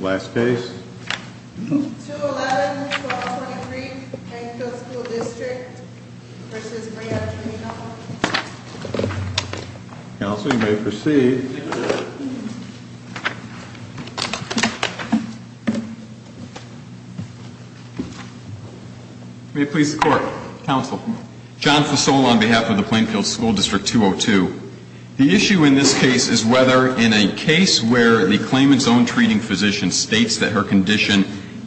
Last case? 211-1223, Plainfield School District v. Brea Community College. Counsel, you may proceed. May it please the Court. Counsel. John Fasola on behalf of the Plainfield School District 202. The issue in this case is whether in a case where the claimant's own treating physician states that her condition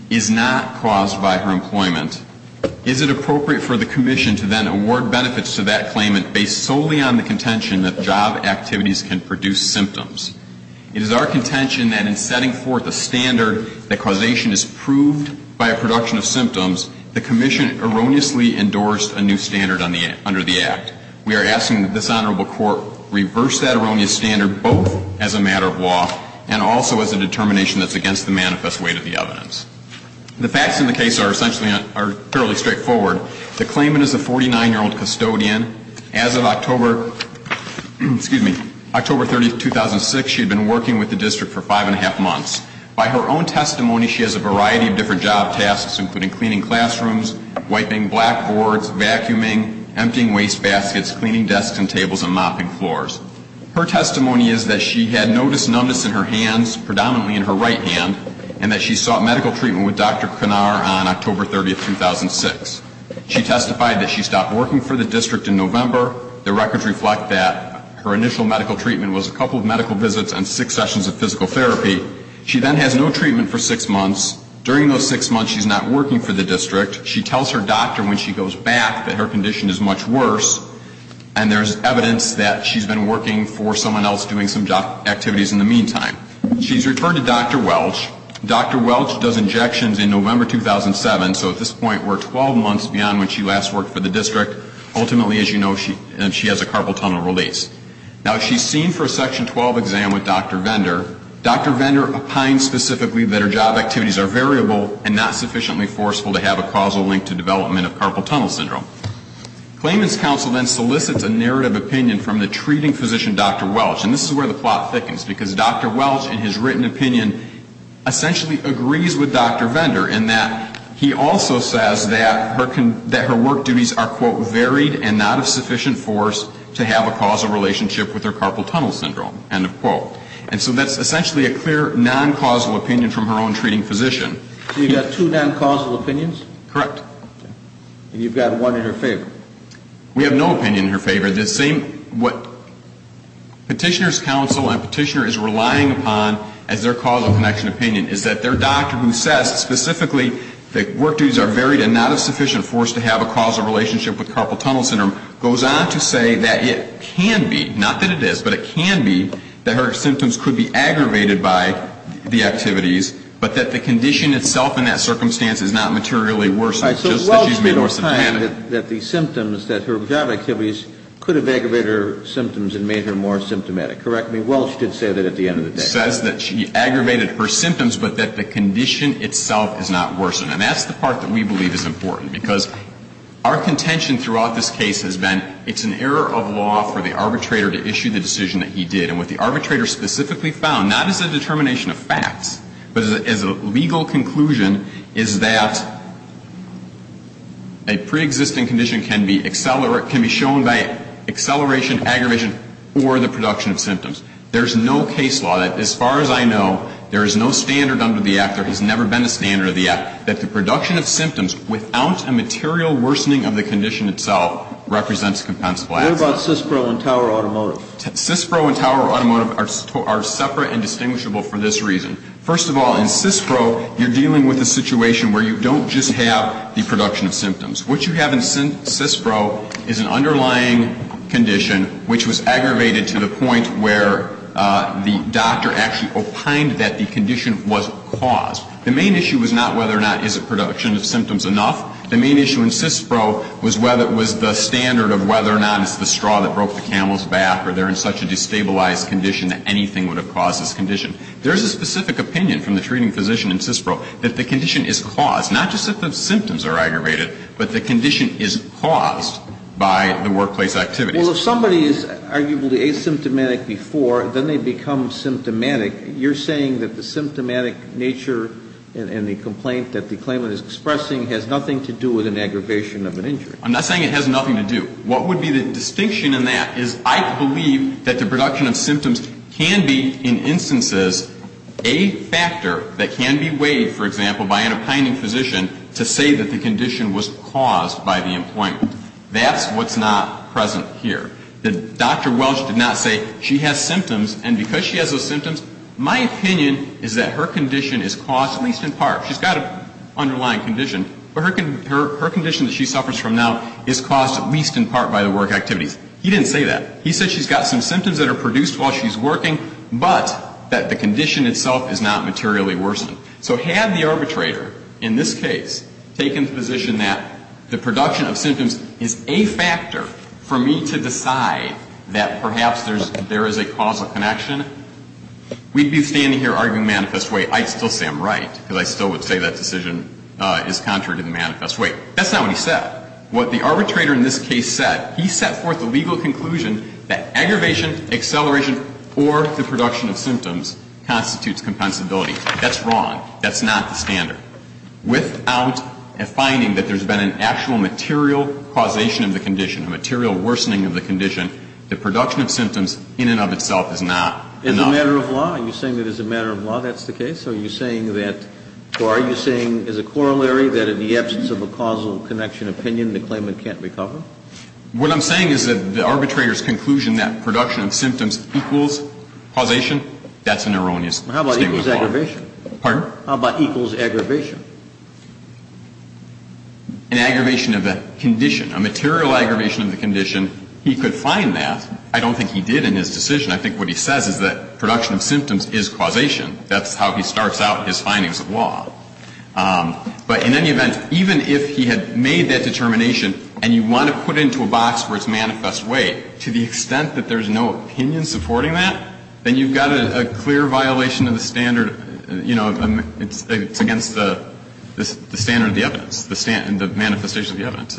is not caused by her employment, is it appropriate for the Commission to then award benefits to that claimant based solely on the contention that job activities can produce symptoms? It is our contention that in setting forth a standard that causation is proved by a production of symptoms, the Commission erroneously endorsed a new standard under the Act. We are asking that this Honorable Court reverse that erroneous standard both as a matter of law and also as a determination that's against the manifest weight of the evidence. The facts in the case are essentially fairly straightforward. The claimant is a 49-year-old custodian. As of October 30, 2006, she had been working with the District for five and a half months. By her own testimony, she has a variety of different job tasks, including cleaning classrooms, wiping blackboards, vacuuming, emptying wastebaskets, cleaning desks and tables, and mopping floors. Her testimony is that she had noticed numbness in her hands, predominantly in her right hand, and that she sought medical treatment with Dr. Pinar on October 30, 2006. She testified that she stopped working for the District in November. The records reflect that her initial medical treatment was a couple of medical visits and six sessions of physical therapy. She then has no treatment for six months. During those six months, she's not working for the District. She tells her doctor when she goes back that her condition is much worse, and there's evidence that she's been working for someone else doing some job activities in the meantime. She's referred to Dr. Welch. Dr. Welch does injections in November 2007, so at this point we're 12 months beyond when she last worked for the District. Ultimately, as you know, she has a carpal tunnel release. Now, she's seen for a Section 12 exam with Dr. Vendor. Dr. Vendor opines specifically that her job activities are variable and not sufficiently forceful to have a causal link to development of carpal tunnel syndrome. Claimant's counsel then solicits a narrative opinion from the treating physician, Dr. Welch. And this is where the plot thickens, because Dr. Welch, in his written opinion, essentially agrees with Dr. Vendor in that he also says that her work duties are, quote, varied and not of sufficient force to have a causal relationship with her carpal tunnel syndrome, end of quote. And so that's essentially a clear, non-causal opinion from her own treating physician. So you've got two non-causal opinions? Correct. And you've got one in her favor? We have no opinion in her favor. The same what Petitioner's counsel and Petitioner is relying upon as their causal connection opinion is that their doctor who says specifically that work duties are varied and not of sufficient force to have a causal relationship with carpal tunnel syndrome goes on to say that it can be, not that it is, but it can be that her symptoms could be aggravated by the activities, but that the condition itself in that circumstance is not materially worsened, just that she's made more symptomatic. So Welch made a claim that the symptoms that her job activities could have aggravated her symptoms and made her more symptomatic. Correct me. Welch did say that at the end of the day. Says that she aggravated her symptoms, but that the condition itself is not worsened. And that's the part that we believe is important, because our contention throughout this case has been it's an error of law for the arbitrator to issue the decision that he did. And what the arbitrator specifically found, not as a determination of facts, but as a legal conclusion, is that a preexisting condition can be accelerated, can be shown by acceleration, aggravation, or the production of symptoms. There's no case law that, as far as I know, there is no standard under the Act, there has never been a standard under the Act, that the production of symptoms without a material worsening of the condition itself represents compensable action. What about CISPRO and Tower Automotive? CISPRO and Tower Automotive are separate and distinguishable for this reason. First of all, in CISPRO, you're dealing with a situation where you don't just have the production of symptoms. What you have in CISPRO is an underlying condition which was aggravated to the point where the doctor actually opined that the condition was caused. The main issue was not whether or not is the production of symptoms enough. The main issue in CISPRO was the standard of whether or not it's the straw that broke the camel's back or they're in such a destabilized condition that anything would have caused this condition. There is a specific opinion from the treating physician in CISPRO that the condition is caused, not just that the symptoms are aggravated, but the condition is caused by the workplace activities. Well, if somebody is arguably asymptomatic before, then they become symptomatic. You're saying that the symptomatic nature and the complaint that the claimant is expressing has nothing to do with an aggravation of an injury. I'm not saying it has nothing to do. What would be the distinction in that is I believe that the production of symptoms can be in instances a factor that can be weighed, for example, by an opining physician to say that the condition was caused by the employment. That's what's not present here. Dr. Welch did not say she has symptoms, and because she has those symptoms, my opinion is that her condition is caused, at least in part, she's got an underlying condition, but her condition that she suffers from now is caused at least in part by the work activities. He didn't say that. He said she's got some symptoms that are produced while she's working, but that the condition itself is not materially worsened. So had the arbitrator in this case taken the position that the production of symptoms is a factor for me to decide that perhaps there is a causal connection, we'd be standing here arguing manifest way. I'd still say I'm right because I still would say that decision is contrary to the manifest way. That's not what he said. What the arbitrator in this case said, he set forth the legal conclusion that aggravation, acceleration, or the production of symptoms constitutes compensability. That's wrong. That's not the standard. Without a finding that there's been an actual material causation of the condition, a material worsening of the condition, the production of symptoms in and of itself is not enough. It's a matter of law. You're saying it is a matter of law. That's the case? Are you saying that or are you saying as a corollary that in the absence of a causal connection opinion, the claimant can't recover? What I'm saying is that the arbitrator's conclusion that production of symptoms equals causation, that's an erroneous statement of law. How about equals aggravation? Pardon? How about equals aggravation? An aggravation of the condition, a material aggravation of the condition, he could find that. I don't think he did in his decision. I think what he says is that production of symptoms is causation. That's how he starts out his findings of law. But in any event, even if he had made that determination and you want to put it into a box where it's manifest way, to the extent that there's no opinion supporting that, then you've got a clear violation of the standard, you know, it's against the standard of the evidence, the manifestation of the evidence.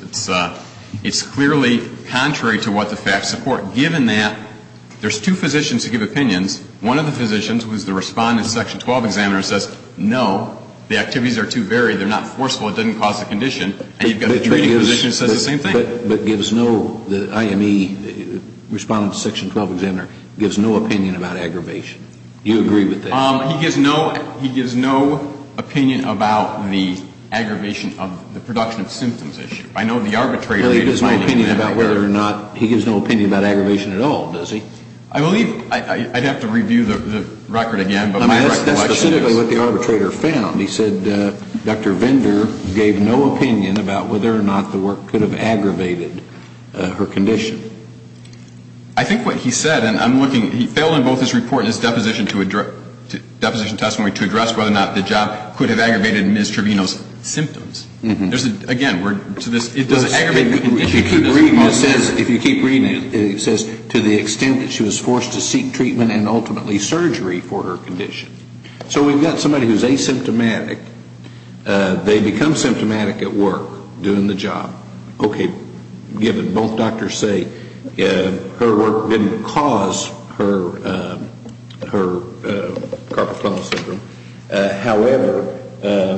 It's clearly contrary to what the facts support, given that there's two physicians who give opinions. One of the physicians who is the respondent to Section 12 examiner says, no, the activities are too varied. They're not forceful. It doesn't cause the condition. And you've got a treating physician who says the same thing. But gives no, the IME respondent to Section 12 examiner, gives no opinion about aggravation. Do you agree with that? He gives no, he gives no opinion about the aggravation of the production of symptoms issue. I know the arbitrator. He gives no opinion about whether or not, he gives no opinion about aggravation at all, does he? I believe, I'd have to review the record again. That's specifically what the arbitrator found. He said Dr. Vender gave no opinion about whether or not the work could have aggravated her condition. I think what he said, and I'm looking, he failed in both his report and his deposition to address, deposition testimony to address whether or not the job could have aggravated Ms. Trevino's symptoms. There's a, again, we're to this, it does aggravate the condition. If you keep reading it, it says to the extent that she was forced to seek treatment and ultimately surgery for her condition. So we've got somebody who's asymptomatic. They become symptomatic at work, doing the job. Okay, given both doctors say her work didn't cause her carpal tunnel syndrome. However,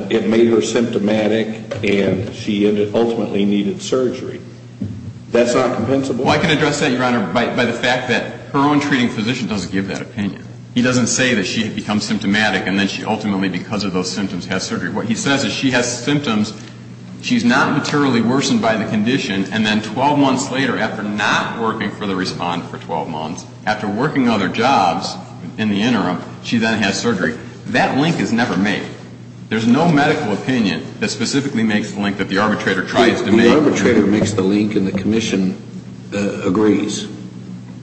it made her symptomatic and she ultimately needed surgery. That's not compensable? Well, I can address that, Your Honor, by the fact that her own treating physician doesn't give that opinion. He doesn't say that she becomes symptomatic and then she ultimately, because of those symptoms, has surgery. What he says is she has symptoms, she's not materially worsened by the condition, and then 12 months later, after not working for the respondent for 12 months, after working other jobs in the interim, she then has surgery. That link is never made. There's no medical opinion that specifically makes the link that the arbitrator tries to make. The arbitrator makes the link and the commission agrees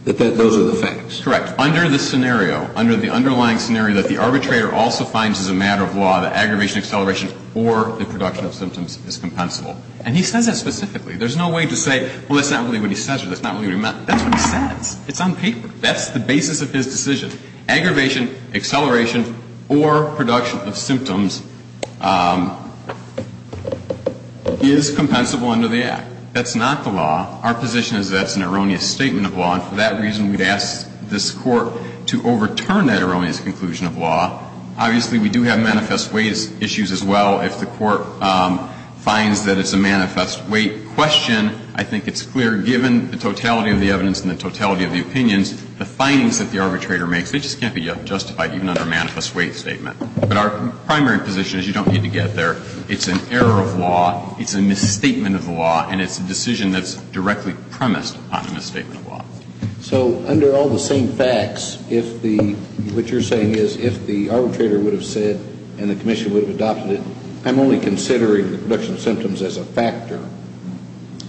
that those are the facts. Correct. Under the scenario, under the underlying scenario that the arbitrator also finds as a matter of law that aggravation, acceleration, or the production of symptoms is compensable. And he says that specifically. There's no way to say, well, let's not believe what he says or let's not believe what he meant. That's what he says. It's on paper. That's the basis of his decision. Aggravation, acceleration, or production of symptoms is compensable under the Act. That's not the law. Our position is that's an erroneous statement of law. And for that reason, we'd ask this Court to overturn that erroneous conclusion of law. Obviously, we do have manifest weight issues as well. If the Court finds that it's a manifest weight question, I think it's clear, given the totality of the evidence and the totality of the opinions, the findings that the arbitrator makes, they just can't be justified even under a manifest weight statement. But our primary position is you don't need to get there. It's an error of law. It's a misstatement of the law. And it's a decision that's directly premised upon a misstatement of law. So under all the same facts, if the, what you're saying is if the arbitrator would have said and the commission would have adopted it, I'm only considering the production of symptoms as a factor.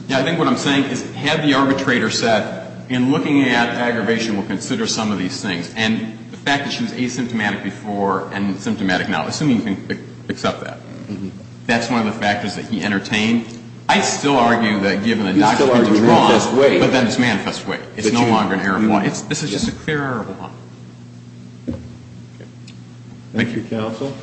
Yeah. I think what I'm saying is have the arbitrator said, in looking at aggravation, we'll consider some of these things. And the fact that she was asymptomatic before and symptomatic now, assuming you can accept that, that's one of the factors that he entertained. I mean, I still argue that given the doctrine of the law, but then it's manifest weight. It's no longer an error of law. This is just a clear error of law. Thank you. Thank you, counsel.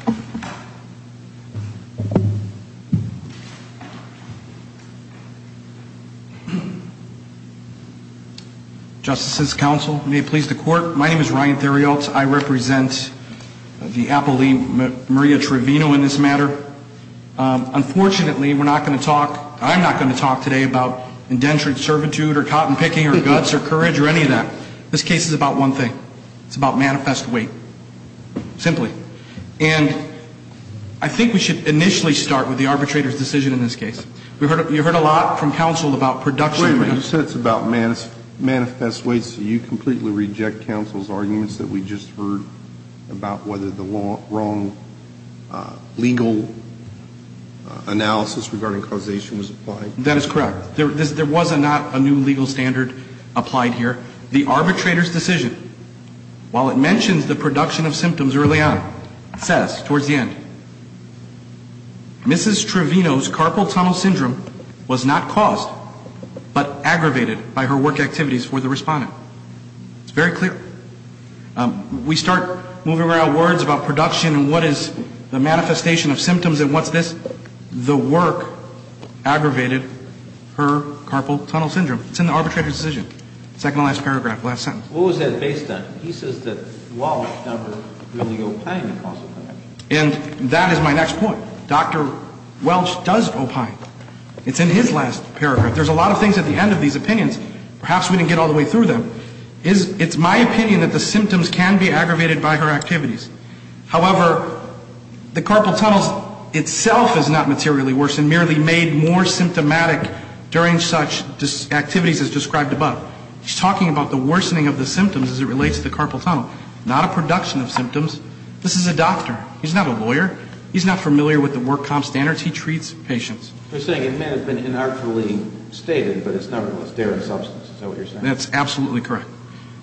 Justices, counsel, may it please the Court. My name is Ryan Theriot. I represent the appellee, Maria Trevino, in this matter. Unfortunately, we're not going to talk, I'm not going to talk today about indentured servitude or cotton picking or guts or courage or any of that. This case is about one thing. It's about manifest weight, simply. And I think we should initially start with the arbitrator's decision in this case. You heard a lot from counsel about production rates. Wait a minute. You said it's about manifest weight, so you completely reject counsel's arguments that we just heard about whether the wrong legal analysis regarding causation was applied? That is correct. There was not a new legal standard applied here. The arbitrator's decision, while it mentions the production of symptoms early on, it says towards the end, Mrs. Trevino's carpal tunnel syndrome was not caused, but aggravated by her work activities for the respondent. It's very clear. We start moving around words about production and what is the manifestation of symptoms and what's this. The work aggravated her carpal tunnel syndrome. It's in the arbitrator's decision. Second to last paragraph, last sentence. What was that based on? He says that Welch never really opined in causal connection. And that is my next point. Dr. Welch does opine. It's in his last paragraph. There's a lot of things at the end of these opinions. Perhaps we didn't get all the way through them. It's my opinion that the symptoms can be aggravated by her activities. However, the carpal tunnel itself is not materially worse and merely made more symptomatic during such activities as described above. He's talking about the worsening of the symptoms as it relates to the carpal tunnel, not a production of symptoms. This is a doctor. He's not a lawyer. He's not familiar with the work comp standards. He treats patients. You're saying it may have been inartfully stated, but it's nevertheless there in substance. Is that what you're saying? That's absolutely correct.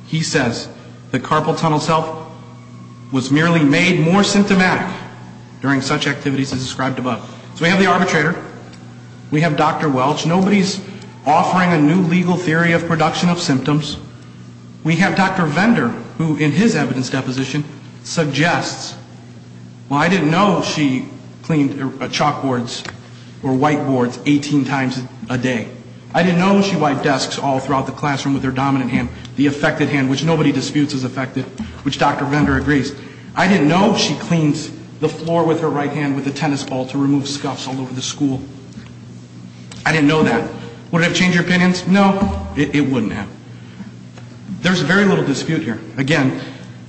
He says the carpal tunnel itself was merely made more symptomatic during such activities as described above. So we have the arbitrator. We have Dr. Welch. Nobody's offering a new legal theory of production of symptoms. We have Dr. Vendor, who in his evidence deposition suggests, Well, I didn't know she cleaned chalkboards or whiteboards 18 times a day. I didn't know she wiped desks all throughout the classroom with her dominant hand, the affected hand, which nobody disputes is affected, which Dr. Vendor agrees. I didn't know she cleans the floor with her right hand with a tennis ball to remove scuffs all over the school. I didn't know that. Would it have changed your opinions? No, it wouldn't have. There's very little dispute here. Again,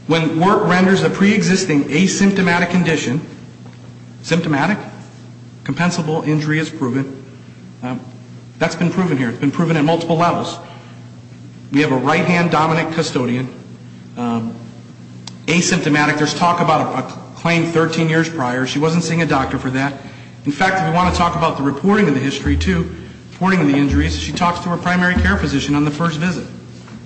when work renders a preexisting asymptomatic condition, symptomatic, compensable injury is proven. That's been proven here. It's been proven at multiple levels. We have a right-hand dominant custodian. Asymptomatic, there's talk about a claim 13 years prior. She wasn't seeing a doctor for that. In fact, if you want to talk about the reporting of the history, too, reporting of the injuries, she talks to her primary care physician on the first visit.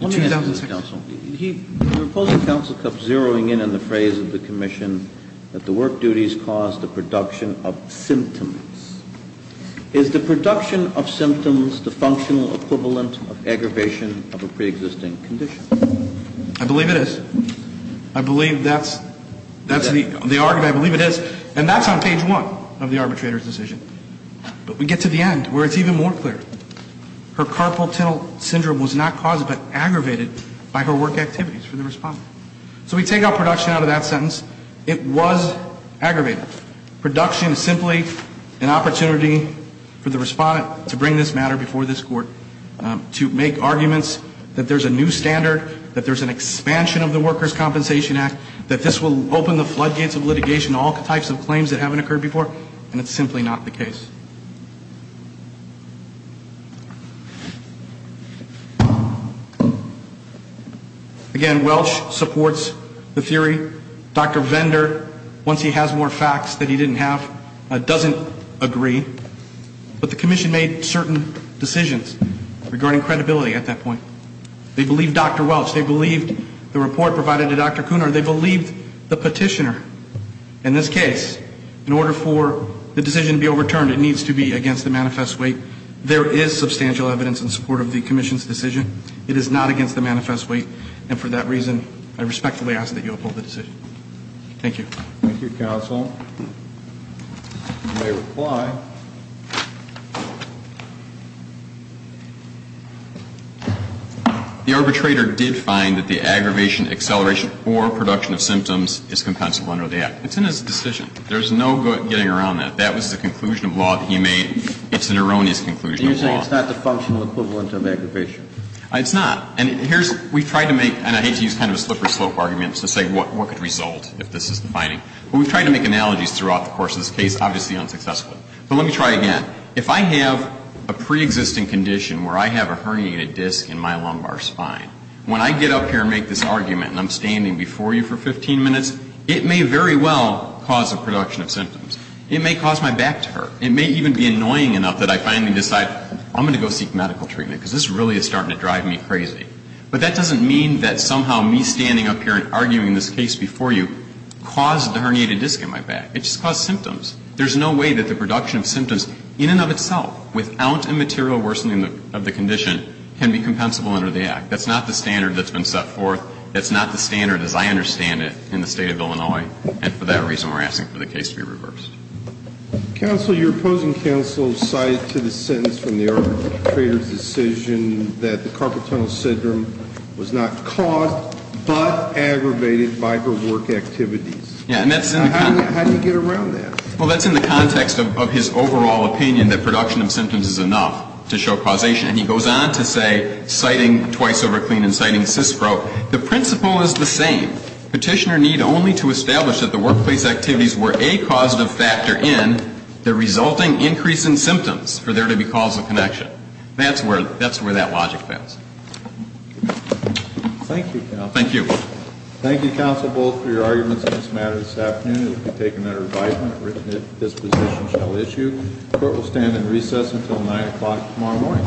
Let me ask you, counsel, the opposing counsel kept zeroing in on the phrase of the commission that the work duties cause the production of symptoms. Is the production of symptoms the functional equivalent of aggravation of a preexisting condition? I believe it is. I believe that's the argument. I believe it is. And that's on page 1 of the arbitrator's decision. But we get to the end where it's even more clear. Her carpal tunnel syndrome was not caused but aggravated by her work activities for the respondent. So we take out production out of that sentence. It was aggravated. Production is simply an opportunity for the respondent to bring this matter before this court, to make arguments that there's a new standard, that there's an expansion of the Workers' Compensation Act, that this will open the floodgates of litigation to all types of claims that haven't occurred before, and it's simply not the case. Again, Welch supports the theory. Dr. Vendor, once he has more facts that he didn't have, doesn't agree. But the commission made certain decisions regarding credibility at that point. They believed Dr. Welch. They believed the report provided to Dr. Cooner. They believed the petitioner. In this case, in order for the decision to be overturned, it needs to be against the manifest weight. There is substantial evidence in support of the commission's decision. It is not against the manifest weight. And for that reason, I respectfully ask that you uphold the decision. Thank you. Thank you, counsel. You may reply. The arbitrator did find that the aggravation, acceleration, or production of symptoms is compensable under the Act. It's in his decision. There's no getting around that. That was the conclusion of law that he made. It's an erroneous conclusion of law. So you're saying it's not the functional equivalent of aggravation? It's not. And here's we've tried to make, and I hate to use kind of a slip or slope argument to say what could result if this is the finding. But we've tried to make analogies throughout the course of this case, obviously unsuccessful. But let me try again. If I have a preexisting condition where I have a herniated disc in my lumbar spine, when I get up here and make this argument and I'm standing before you for 15 minutes, it may very well cause a production of symptoms. It may cause my back to hurt. It may even be annoying enough that I finally decide I'm going to go seek medical treatment because this really is starting to drive me crazy. But that doesn't mean that somehow me standing up here and arguing this case before you caused the herniated disc in my back. It just caused symptoms. There's no way that the production of symptoms in and of itself without a material worsening of the condition can be compensable under the Act. That's not the standard that's been set forth. That's not the standard as I understand it in the State of Illinois. And for that reason, we're asking for the case to be reversed. Counsel, your opposing counsel cited to the sentence from the arbitrator's decision that the carpal tunnel syndrome was not caused but aggravated by her work activities. Yeah. And that's in the contract. How do you get around that? Well, that's in the context of his overall opinion that production of symptoms is enough to show causation. And he goes on to say, citing twice over clean and citing CISPRO, the principle is the same. Petitioner need only to establish that the workplace activities were a causative factor in the resulting increase in symptoms for there to be causal connection. That's where that logic fails. Thank you, counsel. Thank you. Thank you, counsel, both for your arguments on this matter this afternoon. It will be taken under revisement if this position shall issue. Court will stand in recess until 9 o'clock tomorrow morning.